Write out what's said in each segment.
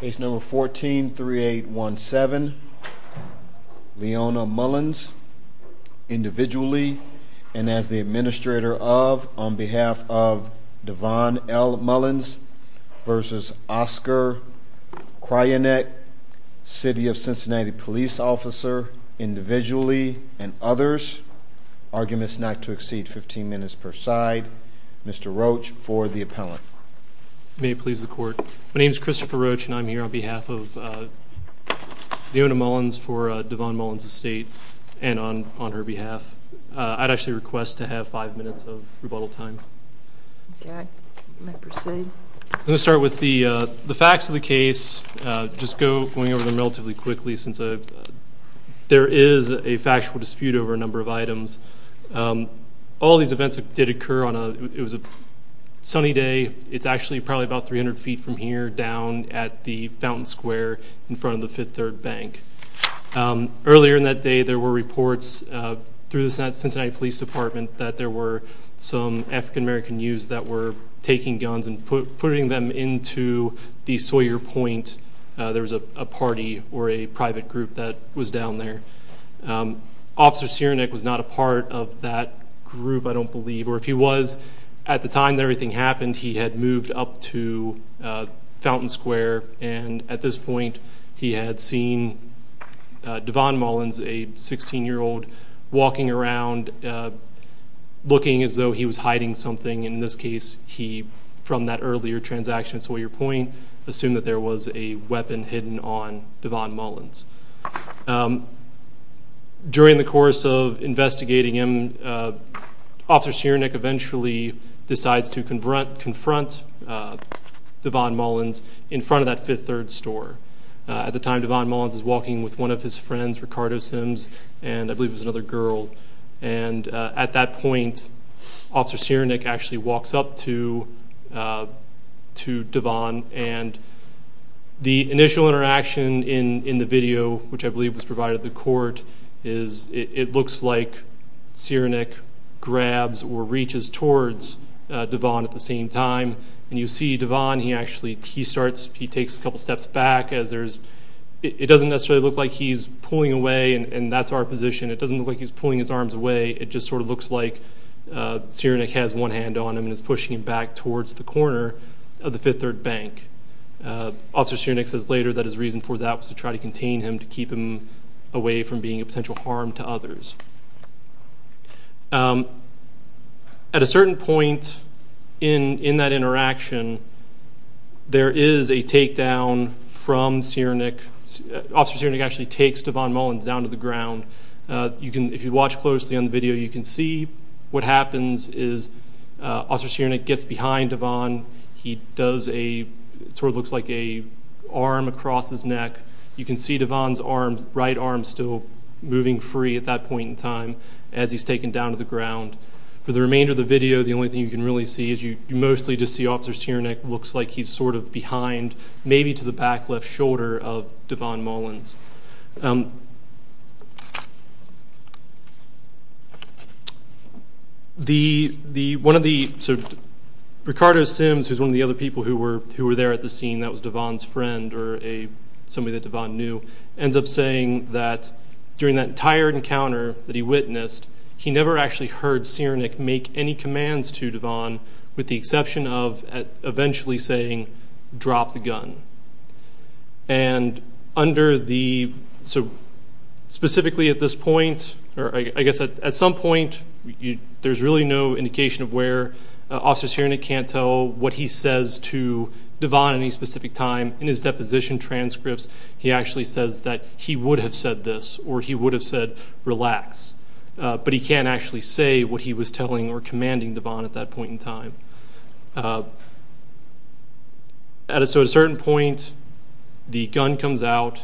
Page number fourteen three eight one seven Leona Mullins individually and as the administrator of on behalf of Devon L Mullins versus Oscar Cryanek city of Cincinnati police officer individually and others arguments not to exceed 15 minutes per side mr. Roach for the appellant may it please the court my name is Christopher Roach and I'm here on behalf of the owner Mullins for Devon Mullins estate and on on her behalf I'd actually request to have five minutes of rebuttal time let's start with the the facts of the case just go going over them relatively quickly since I've there is a factual dispute over a number of events did occur on a it was a sunny day it's actually probably about 300 feet from here down at the Fountain Square in front of the Fifth Third Bank earlier in that day there were reports through the Cincinnati Police Department that there were some african-american youths that were taking guns and putting them into the Sawyer point there was a party or a private group that was down there officer Cyranek was not a part of that group I don't believe or if he was at the time that everything happened he had moved up to Fountain Square and at this point he had seen Devon Mullins a 16 year old walking around looking as though he was hiding something in this case he from that earlier transaction Sawyer point assume that there was a weapon hidden on eventually decides to confront confront Devon Mullins in front of that fifth third store at the time Devon Mullins is walking with one of his friends Ricardo Sims and I believe is another girl and at that point officer Cyranek actually walks up to to Devon and the initial interaction in in the video which I like Cyranek grabs or reaches towards Devon at the same time and you see Devon he actually he starts he takes a couple steps back as there's it doesn't necessarily look like he's pulling away and that's our position it doesn't look like he's pulling his arms away it just sort of looks like Cyranek has one hand on him and is pushing him back towards the corner of the Fifth Third Bank officer Cyranek says later that his reason for that was to try to contain him to keep him away from being a potential harm to others at a certain point in in that interaction there is a takedown from Cyranek officer Cyranek actually takes Devon Mullins down to the ground you can if you watch closely on the video you can see what happens is officer Cyranek gets behind Devon he does a sort of looks like a arm across his neck you can see Devon's arm right arm still moving free at that point in time as he's taken down to the ground for the remainder of the video the only thing you can really see is you mostly just see officer Cyranek looks like he's sort of behind maybe to the back left shoulder of Devon Mullins. Ricardo Sims who's one of the other people who were who were there at the scene that was Devon's friend or a somebody that Devon knew ends up saying that during that entire encounter that he witnessed he never actually heard Cyranek make any commands to Devon with the exception of eventually saying drop the gun and under the so specifically at this point or I guess at some point there's really no indication of where officer Cyranek can't tell what he says to Devon any specific time in his deposition transcripts he actually says that he would have said this or he would have said relax but he can't actually say what he was telling or commanding Devon at that point in time. At a certain point the gun comes out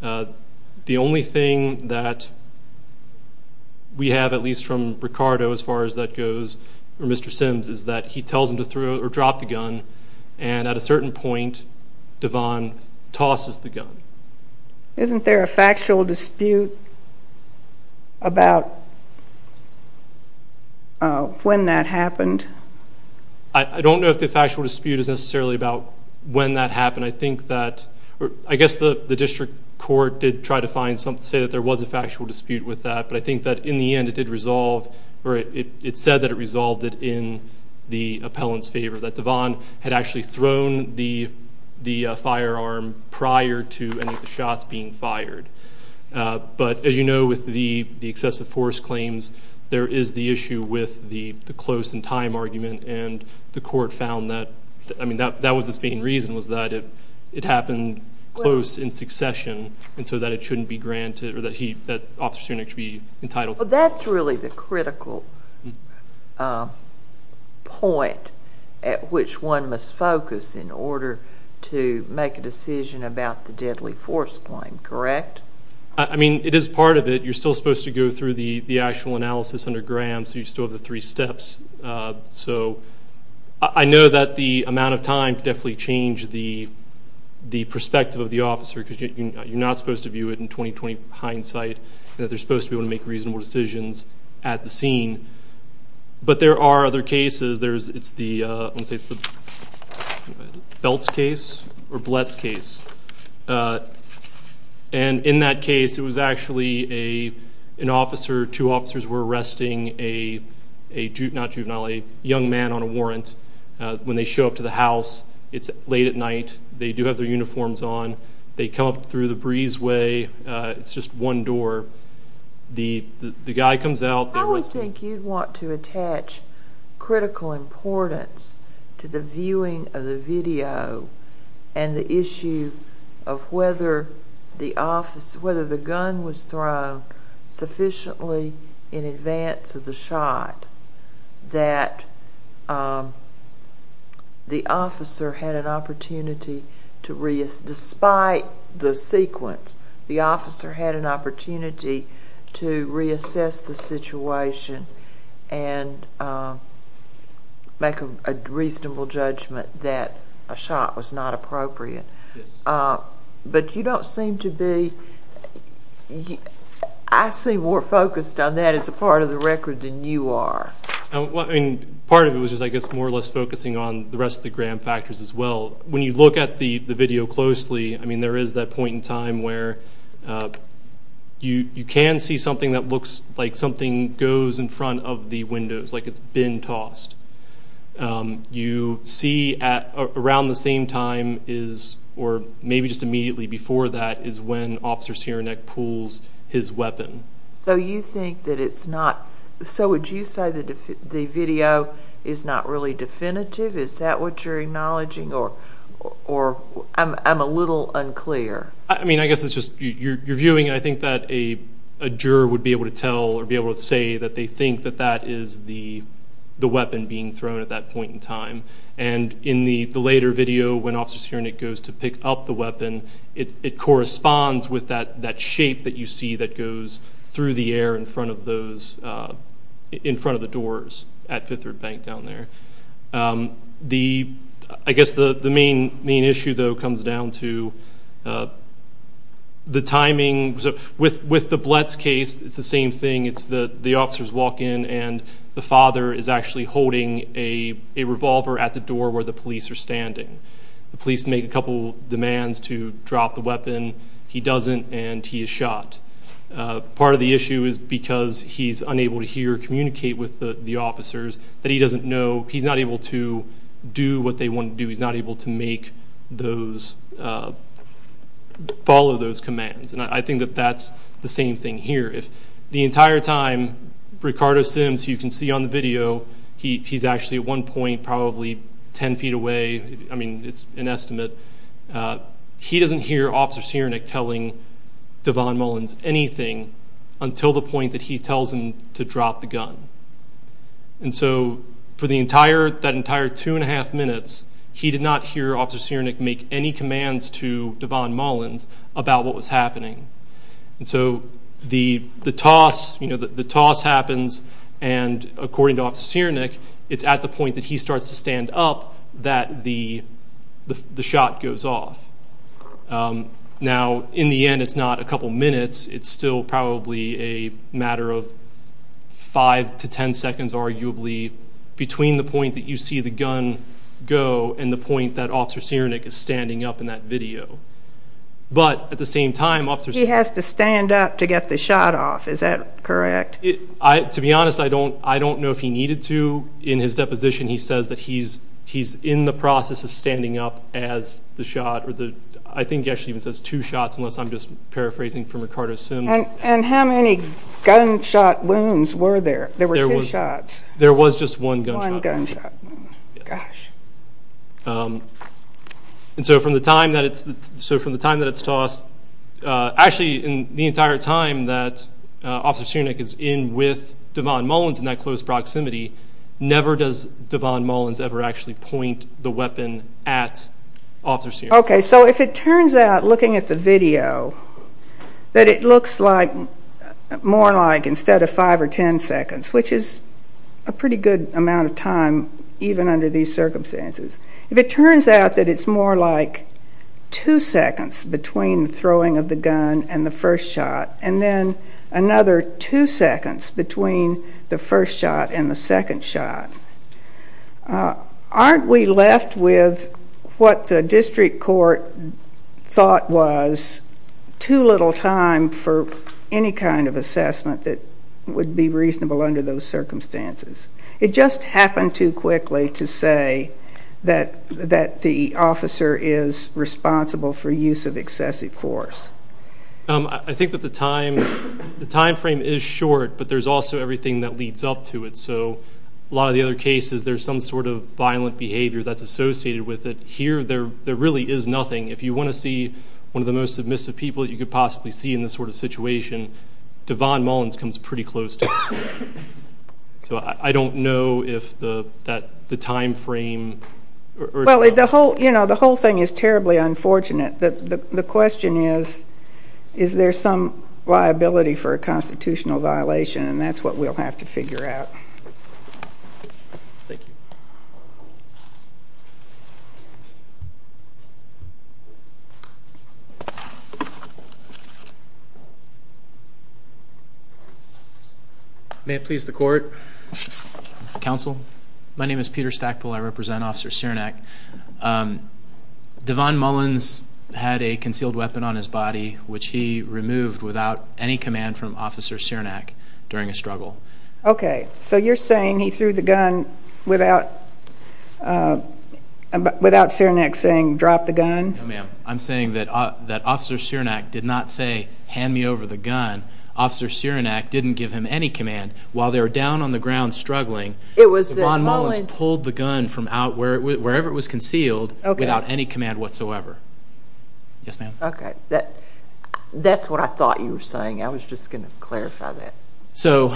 the only thing that we have at least from Ricardo as far as that goes or Mr. Sims is that he tells him to throw or drop the gun and at a certain point Devon tosses the gun. Isn't there a factual dispute about when that happened? I don't know if the factual dispute is necessarily about when that happened I think that I guess the the district court did try to find something to say that there was a factual dispute with that but I think that in the end it did resolve or it said that it resolved it in the appellant's favor that Devon had actually thrown the the firearm prior to any of the shots being there is the issue with the close in time argument and the court found that I mean that was the main reason was that it happened close in succession and so that it shouldn't be granted or that officer Cyranek should be entitled. That's really the critical point at which one must focus in order to make a decision about the deadly force claim correct? I mean it is part of it you're still supposed to go through the the actual analysis under Graham so you still have the three steps so I know that the amount of time definitely change the the perspective of the officer because you're not supposed to view it in 20-20 hindsight that they're supposed to be able to make reasonable decisions at the scene but there are other cases there's it's the Belts case or Blets case and in that case it was actually a an officer two officers were arresting a a juvenile a young man on a warrant when they show up to the house it's late at night they do have their uniforms on they come up through the breezeway it's just one door the the guy comes out. I would think you'd want to attach critical importance to the was thrown sufficiently in advance of the shot that the officer had an opportunity to risk despite the sequence the officer had an opportunity to reassess the situation and make a reasonable judgment that a shot was not I see more focused on that as a part of the record than you are. I mean part of it was just I guess more or less focusing on the rest of the Graham factors as well when you look at the the video closely I mean there is that point in time where you you can see something that looks like something goes in front of the windows like it's been tossed you see at around the same time is or maybe just immediately before that is when officers here neck pulls his weapon. So you think that it's not so would you say that the video is not really definitive is that what you're acknowledging or or I'm a little unclear. I mean I guess it's just you're viewing I think that a juror would be able to tell or be able to say that they think that that is the the weapon being thrown at that point in time and in the the later video when officers hearing it goes to pick up the weapon it corresponds with that that shape that you see that goes through the air in front of those in front of the doors at Fifth Road Bank down there. The I guess the the main main issue though comes down to the timing with with the Bletts case it's the same thing it's the the officers walk in and the father is actually holding a revolver at the door where the police are standing. The police make a couple demands to drop the weapon he doesn't and he is shot. Part of the issue is because he's unable to hear communicate with the officers that he doesn't know he's not able to do what they want to do he's not able to make those follow those commands and I think that that's the same thing here if the entire time Ricardo Sims you can see on the video he's actually at one point probably 10 feet away I mean it's an estimate he doesn't hear officers hearing it telling Devon Mullins anything until the point that he tells him to drop the gun and so for the entire that entire two and a half minutes he did not hear officers hearing it make any commands to Devon Mullins about what was happening and so the the toss you know that the toss happens and it's at the point that he starts to stand up that the the shot goes off now in the end it's not a couple minutes it's still probably a matter of five to ten seconds arguably between the point that you see the gun go and the point that officers hearing it is standing up in that video but at the same time officers he has to stand up to get the shot off is that correct I to be honest I don't I don't know if he needed to in his deposition he says that he's he's in the process of standing up as the shot or the I think actually even says two shots unless I'm just paraphrasing from Ricardo Sim and and how many gunshot wounds were there there were two shots there was just one gunshot and so from the time that it's so from the time that it's tossed actually in the entire time that officer is in with Devon Mullins in that close proximity never does Devon Mullins ever actually point the weapon at officers here okay so if it turns out looking at the video that it looks like more like instead of five or ten seconds which is a pretty good amount of time even under these circumstances if it turns out that it's more like two seconds between throwing of the gun and the first shot and then another two seconds between the first shot and the second shot aren't we left with what the district court thought was too little time for any kind of assessment that would be reasonable under those circumstances it just happened too quickly to say that that the officer is excessive force I think that the time the time frame is short but there's also everything that leads up to it so a lot of the other cases there's some sort of violent behavior that's associated with it here there there really is nothing if you want to see one of the most submissive people you could possibly see in this sort of situation Devon Mullins comes pretty close to so I don't know if the that the time frame well the whole you know the whole thing is terribly unfortunate that the question is is there some liability for a constitutional violation and that's what we'll have to figure out thank you may please the court counsel my name is Peter Stackpole I represent officer Cernak Devon Mullins had a concealed weapon on his body which he removed without any command from officer Cernak during a struggle ok so you're saying he threw the gun without without Cernak saying drop the gun I'm saying that that officer Cernak did not say hand me over the gun officer Cernak didn't give him any command while they were down on the ground struggling it was Devon Mullins pulled the gun from out where it was wherever it was concealed without any command whatsoever yes ma'am okay that that's what I thought you were saying I was just going clarify that so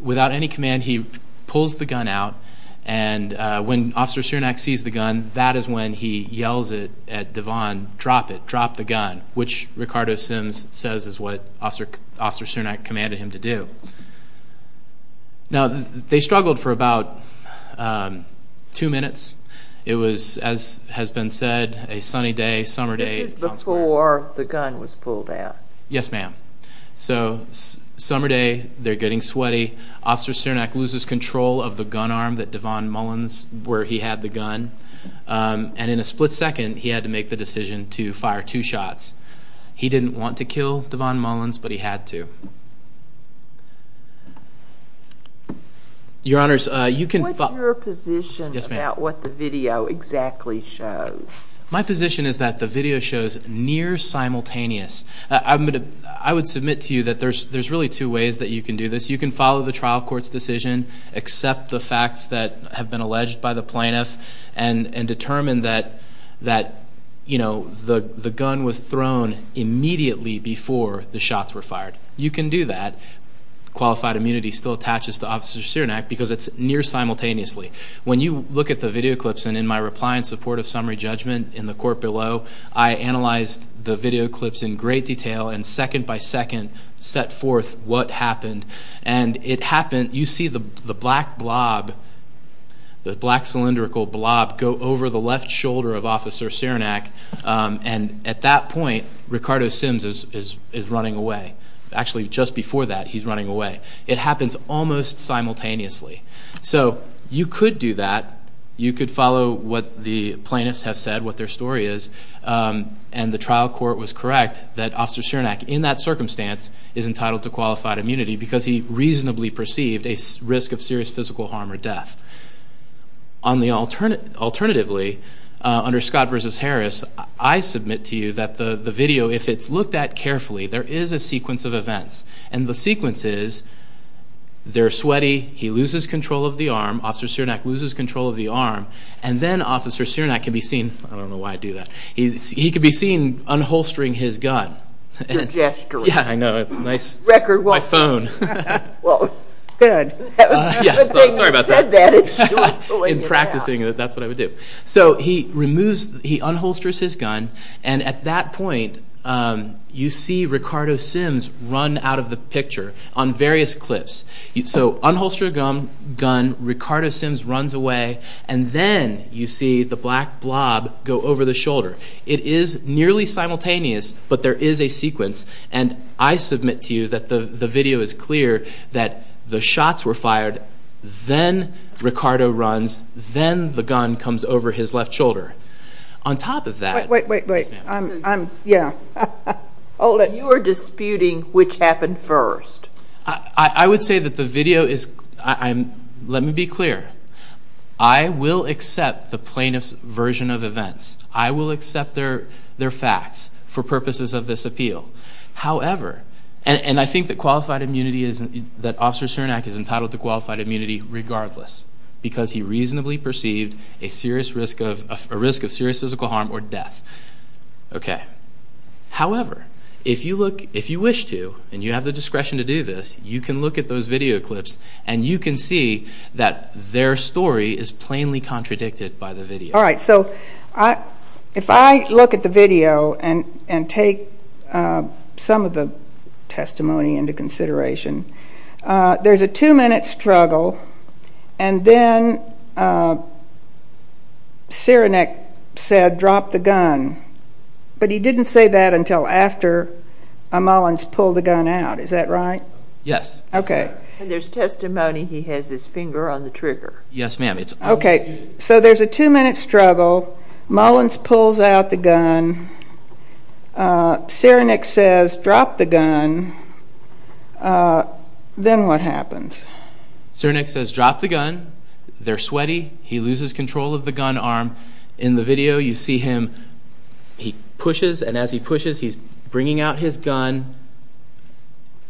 without any command he pulls the gun out and when officer Cernak sees the gun that is when he yells it at Devon drop it drop the gun which Ricardo Sims says is what officer officer Cernak commanded him to do now they struggled for about two minutes it was as has been said a sunny day summer day before the gun was pulled out yes ma'am so summer day they're getting sweaty officer Cernak loses control of the gun arm that Devon Mullins where he had the gun and in a split second he had to make the decision to fire two shots he didn't want to kill Devon Mullins but he had to your honors you can put your position about what the video exactly shows my position is that the video shows near simultaneous I would submit to you that there's there's really two ways that you can do this you can follow the trial court's decision accept the facts that have been alleged by the plaintiff and and determine that that you know the the gun was thrown immediately before the shots were fired you can do that qualified immunity still attaches to officer Cernak because it's near simultaneously when you look at the video clips and in my reply in support of summary judgment in the court below I analyzed the video clips in great detail and second-by-second set forth what happened and it happened you see the black blob the black cylindrical blob go over the left shoulder of officer Cernak and at that point Ricardo Sims is is is running away actually just before that he's running away it happens almost simultaneously so you could do that you could follow what the plaintiffs have said what their story is and the trial court was correct that officer Cernak in that circumstance is entitled to qualified immunity because he reasonably perceived a risk of serious physical harm or death on the alternate alternatively under Scott versus Harris I submit to you that the the video if it's looked at carefully there is a sequence of events and the sequence is they're sweaty he loses control of the arm officer Cernak loses control of the arm and then officer Cernak can be seen I don't know why I do that he could be seen unholstering his gun gesturing yeah I know it's nice record my phone in practicing it that's what I would do so he removes he unholsters his gun and at that point you see Ricardo Sims run out of the picture on various cliffs so unholster gum gun Ricardo Sims runs away and then you see the black blob go over the shoulder it is nearly simultaneous but there is a sequence and I submit to you that the the video is clear that the shots were fired then Ricardo runs then the gun comes over his left shoulder on top of that wait wait wait I'm yeah oh let you are disputing which happened first I would say that the video is I'm let me be clear I will accept the plaintiffs version of events I will accept their their facts for purposes of this appeal however and I think that qualified immunity isn't that officer Cernak is entitled to qualified immunity regardless because he reasonably perceived a serious risk of a risk of serious physical harm or death okay however if you look if you wish to and you have the discretion to do this you can look at those video clips and you can see that their story is plainly contradicted by the video all right so I if I look at the video and and take some of the testimony into consideration there's a two-minute struggle and then Cernak said drop the gun but he didn't say that until after Mullins pulled the gun out is that right yes okay there's testimony he has his finger on the trigger yes ma'am it's okay so there's a two-minute struggle Mullins pulls out the gun Cernak says drop the gun then what happens Cernak says drop the gun they're sweaty he loses control of the gun arm in the video you see him he pushes and as he pushes he's bringing out his gun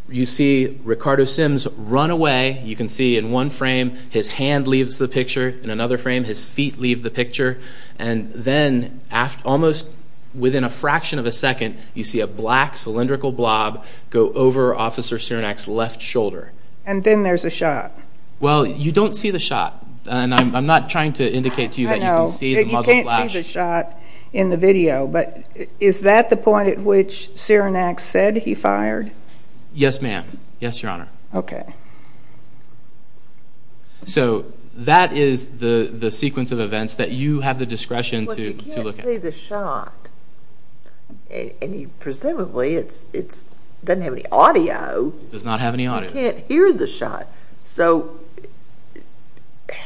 you see Ricardo Sims run away you can see in one frame his hand leaves the picture in another frame his feet leave the picture and then after almost within a fraction of a second you see a black cylindrical blob go over officer Cernak's left shoulder and then there's a shot well you don't see the shot and I'm not trying to indicate to you that you can see the shot in the video but is that the point at which Cernak said he fired yes ma'am yes your that is the the sequence of events that you have the discretion to look at the shot and he presumably it's it's doesn't have any audio does not have any audio can't hear the shot so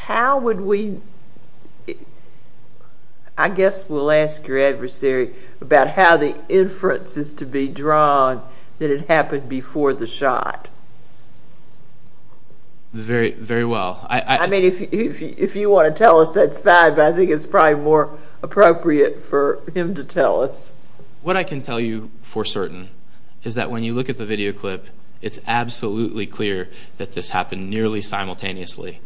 how would we I guess we'll ask your adversary about how the inference is to be drawn that it happened before the shot very very well I mean if you want to tell us that's bad but I think it's probably more appropriate for him to tell us what I can tell you for certain is that when you look at the video clip it's absolutely clear that this happened nearly simultaneously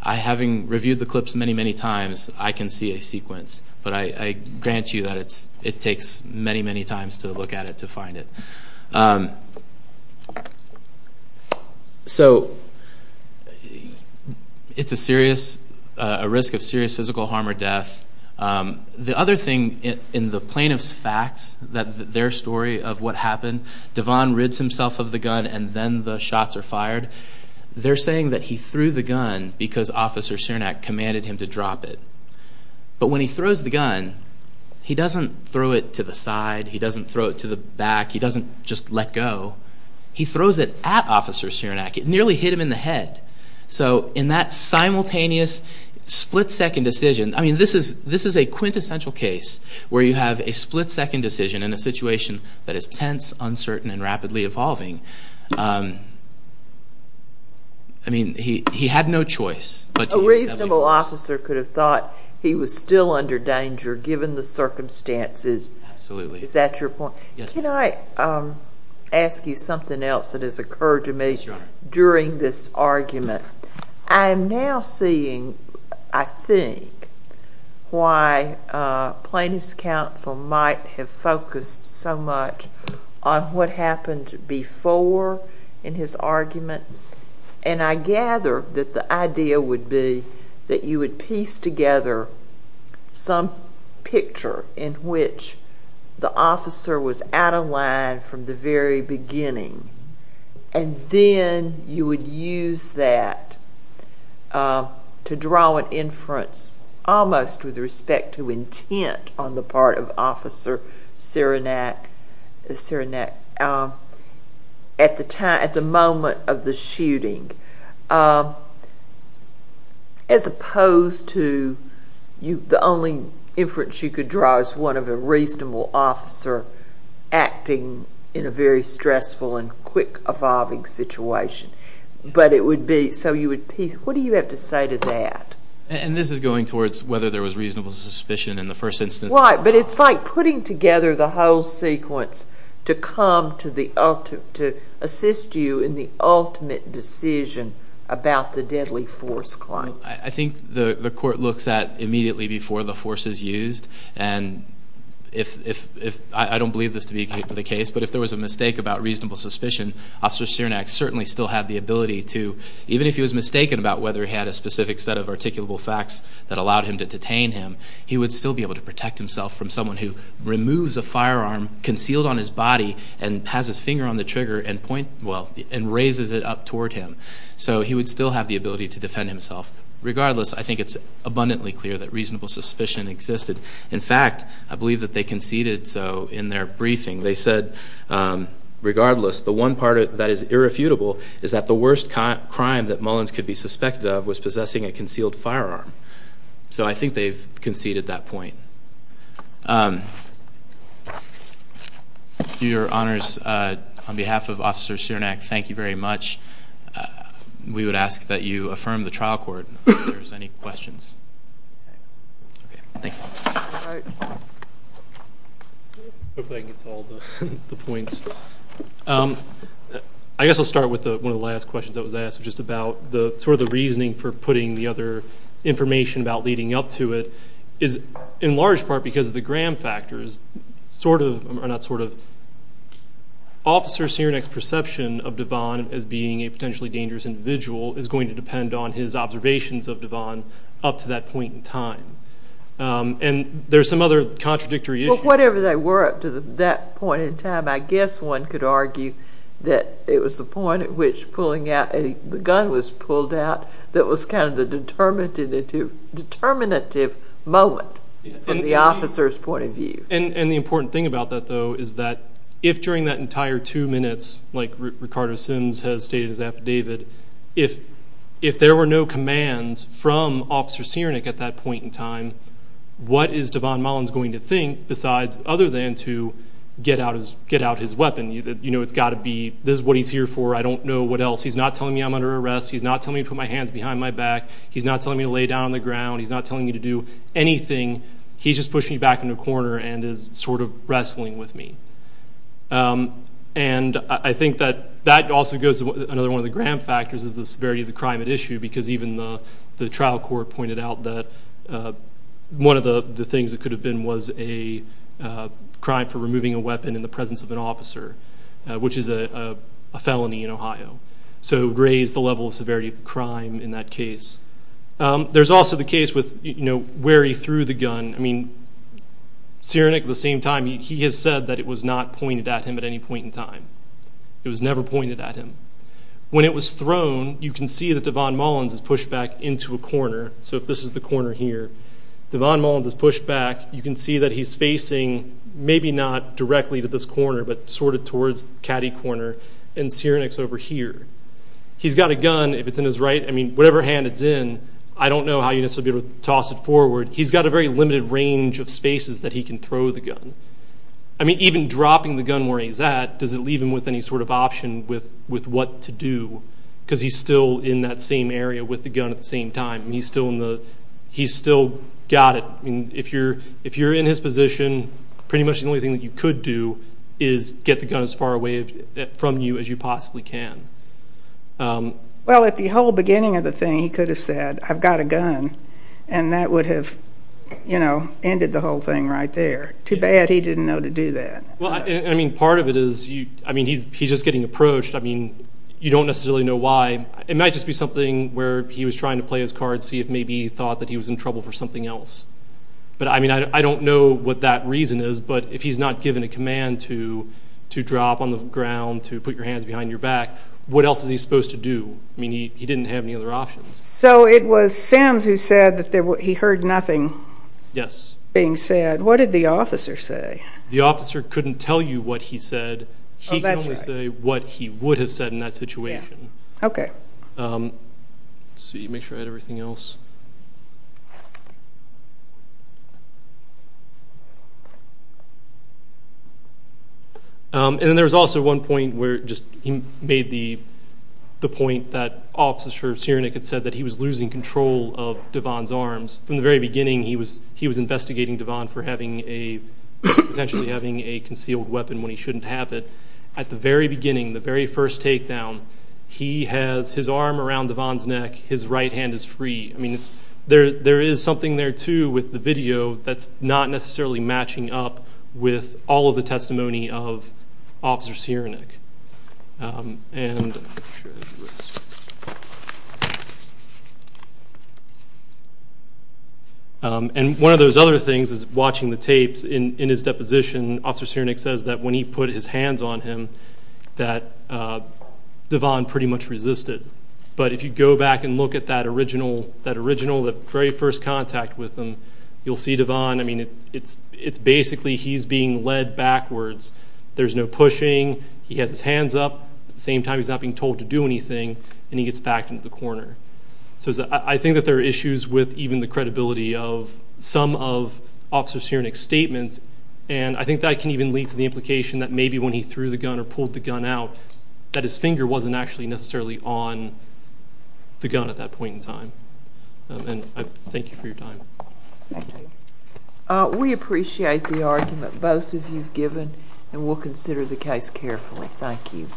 I having reviewed the clips many many times I can see a sequence but I grant you that it's it takes many many times to look at it to it's a serious risk of serious physical harm or death the other thing in the plaintiff's facts that their story of what happened Devon rids himself of the gun and then the shots are fired they're saying that he threw the gun because officer Cernak commanded him to drop it but when he throws the gun he doesn't throw it to the side he doesn't throw it to the back he doesn't just let go he that simultaneous split-second decision I mean this is this is a quintessential case where you have a split-second decision in a situation that is tense uncertain and rapidly evolving I mean he he had no choice but a reasonable officer could have thought he was still under danger given the circumstances absolutely is that your point you know I ask you something else that has occurred to me during this argument I am now seeing I think why plaintiffs counsel might have focused so much on what happened before in his argument and I gather that the idea would be that you would piece together some picture in which the officer was out of line from the very beginning and then you would use that to draw an inference almost with respect to intent on the part of officer Cernak at the time at the moment of the shooting as opposed to you the only inference you could draw is one of a reasonable officer acting in a very stressful and quick evolving situation but it would be so you would piece what do you have to say to that and this is going towards whether there was reasonable suspicion in the first instance why but it's like putting together the whole sequence to come to the ultimate to assist you in the ultimate decision about the deadly force claim I think the the court looks at immediately before the force is used and if I don't believe this to be the case but if there was a mistake about reasonable suspicion officer Cernak certainly still had the ability to even if he was mistaken about whether he had a specific set of articulable facts that allowed him to detain him he would still be able to protect himself from someone who removes a firearm concealed on his body and has his finger on the trigger and point well and raises it up toward him so he would still have the ability to defend himself regardless I think it's abundantly clear that reasonable suspicion existed in fact I believe that they conceded so in their briefing they said regardless the one part of that is irrefutable is that the worst crime that Mullins could be suspected of was possessing a concealed firearm so I think they've conceded that point your honors on behalf of officer Cernak thank you very much we would ask that you I guess I'll start with one of the last questions that was asked just about the sort of the reasoning for putting the other information about leading up to it is in large part because of the gram factors sort of not sort of officer Cernak's perception of Devon as being a potentially dangerous individual is up to that point in time and there's some other contradictory whatever they were up to that point in time I guess one could argue that it was the point at which pulling out a gun was pulled out that was kind of the determinative moment from the officer's point of view and and the important thing about that though is that if during that entire two minutes like Ricardo Sims has stated his affidavit if if there were no commands from officer Cernak at that point in time what is Devon Mullins going to think besides other than to get out his weapon you know it's got to be this is what he's here for I don't know what else he's not telling me I'm under arrest he's not telling me to put my hands behind my back he's not telling me to lay down on the ground he's not telling me to do anything he's just pushing me back in a corner and is sort of wrestling with me and I think that that also goes another one of the gram factors is the severity of the crime at issue because even the the trial court pointed out that one of the the things that could have been was a crime for removing a weapon in the presence of an officer which is a felony in Ohio so raised the level of severity of the crime in that case there's also the case with you know where he threw the gun I mean Cernak at the same time he has said that it was not pointed at him at any point in time it was never pointed at him when it was thrown you can see that Devon Mullins is pushed back into a corner so if this is the corner here Devon Mullins is pushed back you can see that he's facing maybe not directly to this corner but sort of towards caddy corner and Cernak's over here he's got a gun if it's in his right I mean whatever hand it's in I don't know how you necessarily toss it forward he's got a very limited range of spaces that he can throw the gun I mean even dropping the gun where he's at does it leave him with any sort of option with with what to do because he's still in that same area with the gun at the same time he's still in the he's still got it I mean if you're if you're in his position pretty much the only thing that you could do is get the gun as far away from you as you possibly can well at the whole beginning of the thing he could have said I've got a gun and that would have you know ended the whole thing right there too bad he didn't know to do that well I mean part of it is you I mean he's he's just getting approached I mean you don't necessarily know why it might just be something where he was trying to play his card see if maybe he thought that he was in trouble for something else but I mean I don't know what that reason is but if he's not given a command to to drop on the ground to put your hands behind your back what else is he supposed to do I mean he didn't have any other options so it was Sam's who said that there what he heard nothing yes being said what did the officer say the what he would have said in that situation okay see you make sure I had everything else and then there was also one point where just he made the the point that officers here Nick had said that he was losing control of Devon's arms from the very beginning he was he was investigating Devon for having a potentially having a habit at the very beginning the very first takedown he has his arm around Devon's neck his right hand is free I mean it's there there is something there too with the video that's not necessarily matching up with all of the testimony of officers here Nick and and one of those other things is watching the tapes in in his deposition officers here Nick says that when he put his hands on him that Devon pretty much resisted but if you go back and look at that original that original the very first contact with them you'll see Devon I mean it's it's basically he's being led backwards there's no pushing he has his hands up at the same time he's not being told to do anything and he gets back into the corner so I think that there are issues with even the Nick statements and I think that can even lead to the implication that maybe when he threw the gun or pulled the gun out that his finger wasn't actually necessarily on the gun at that point in time and I thank you for your time we appreciate the argument both of you've given and we'll consider the case carefully thank you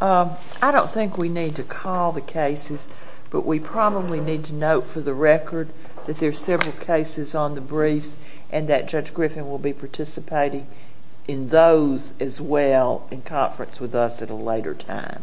I don't think we need to call the cases but we probably need to note for the record that there are several cases on the briefs and that judge Griffin will be participating in those as well in conference with us at a later time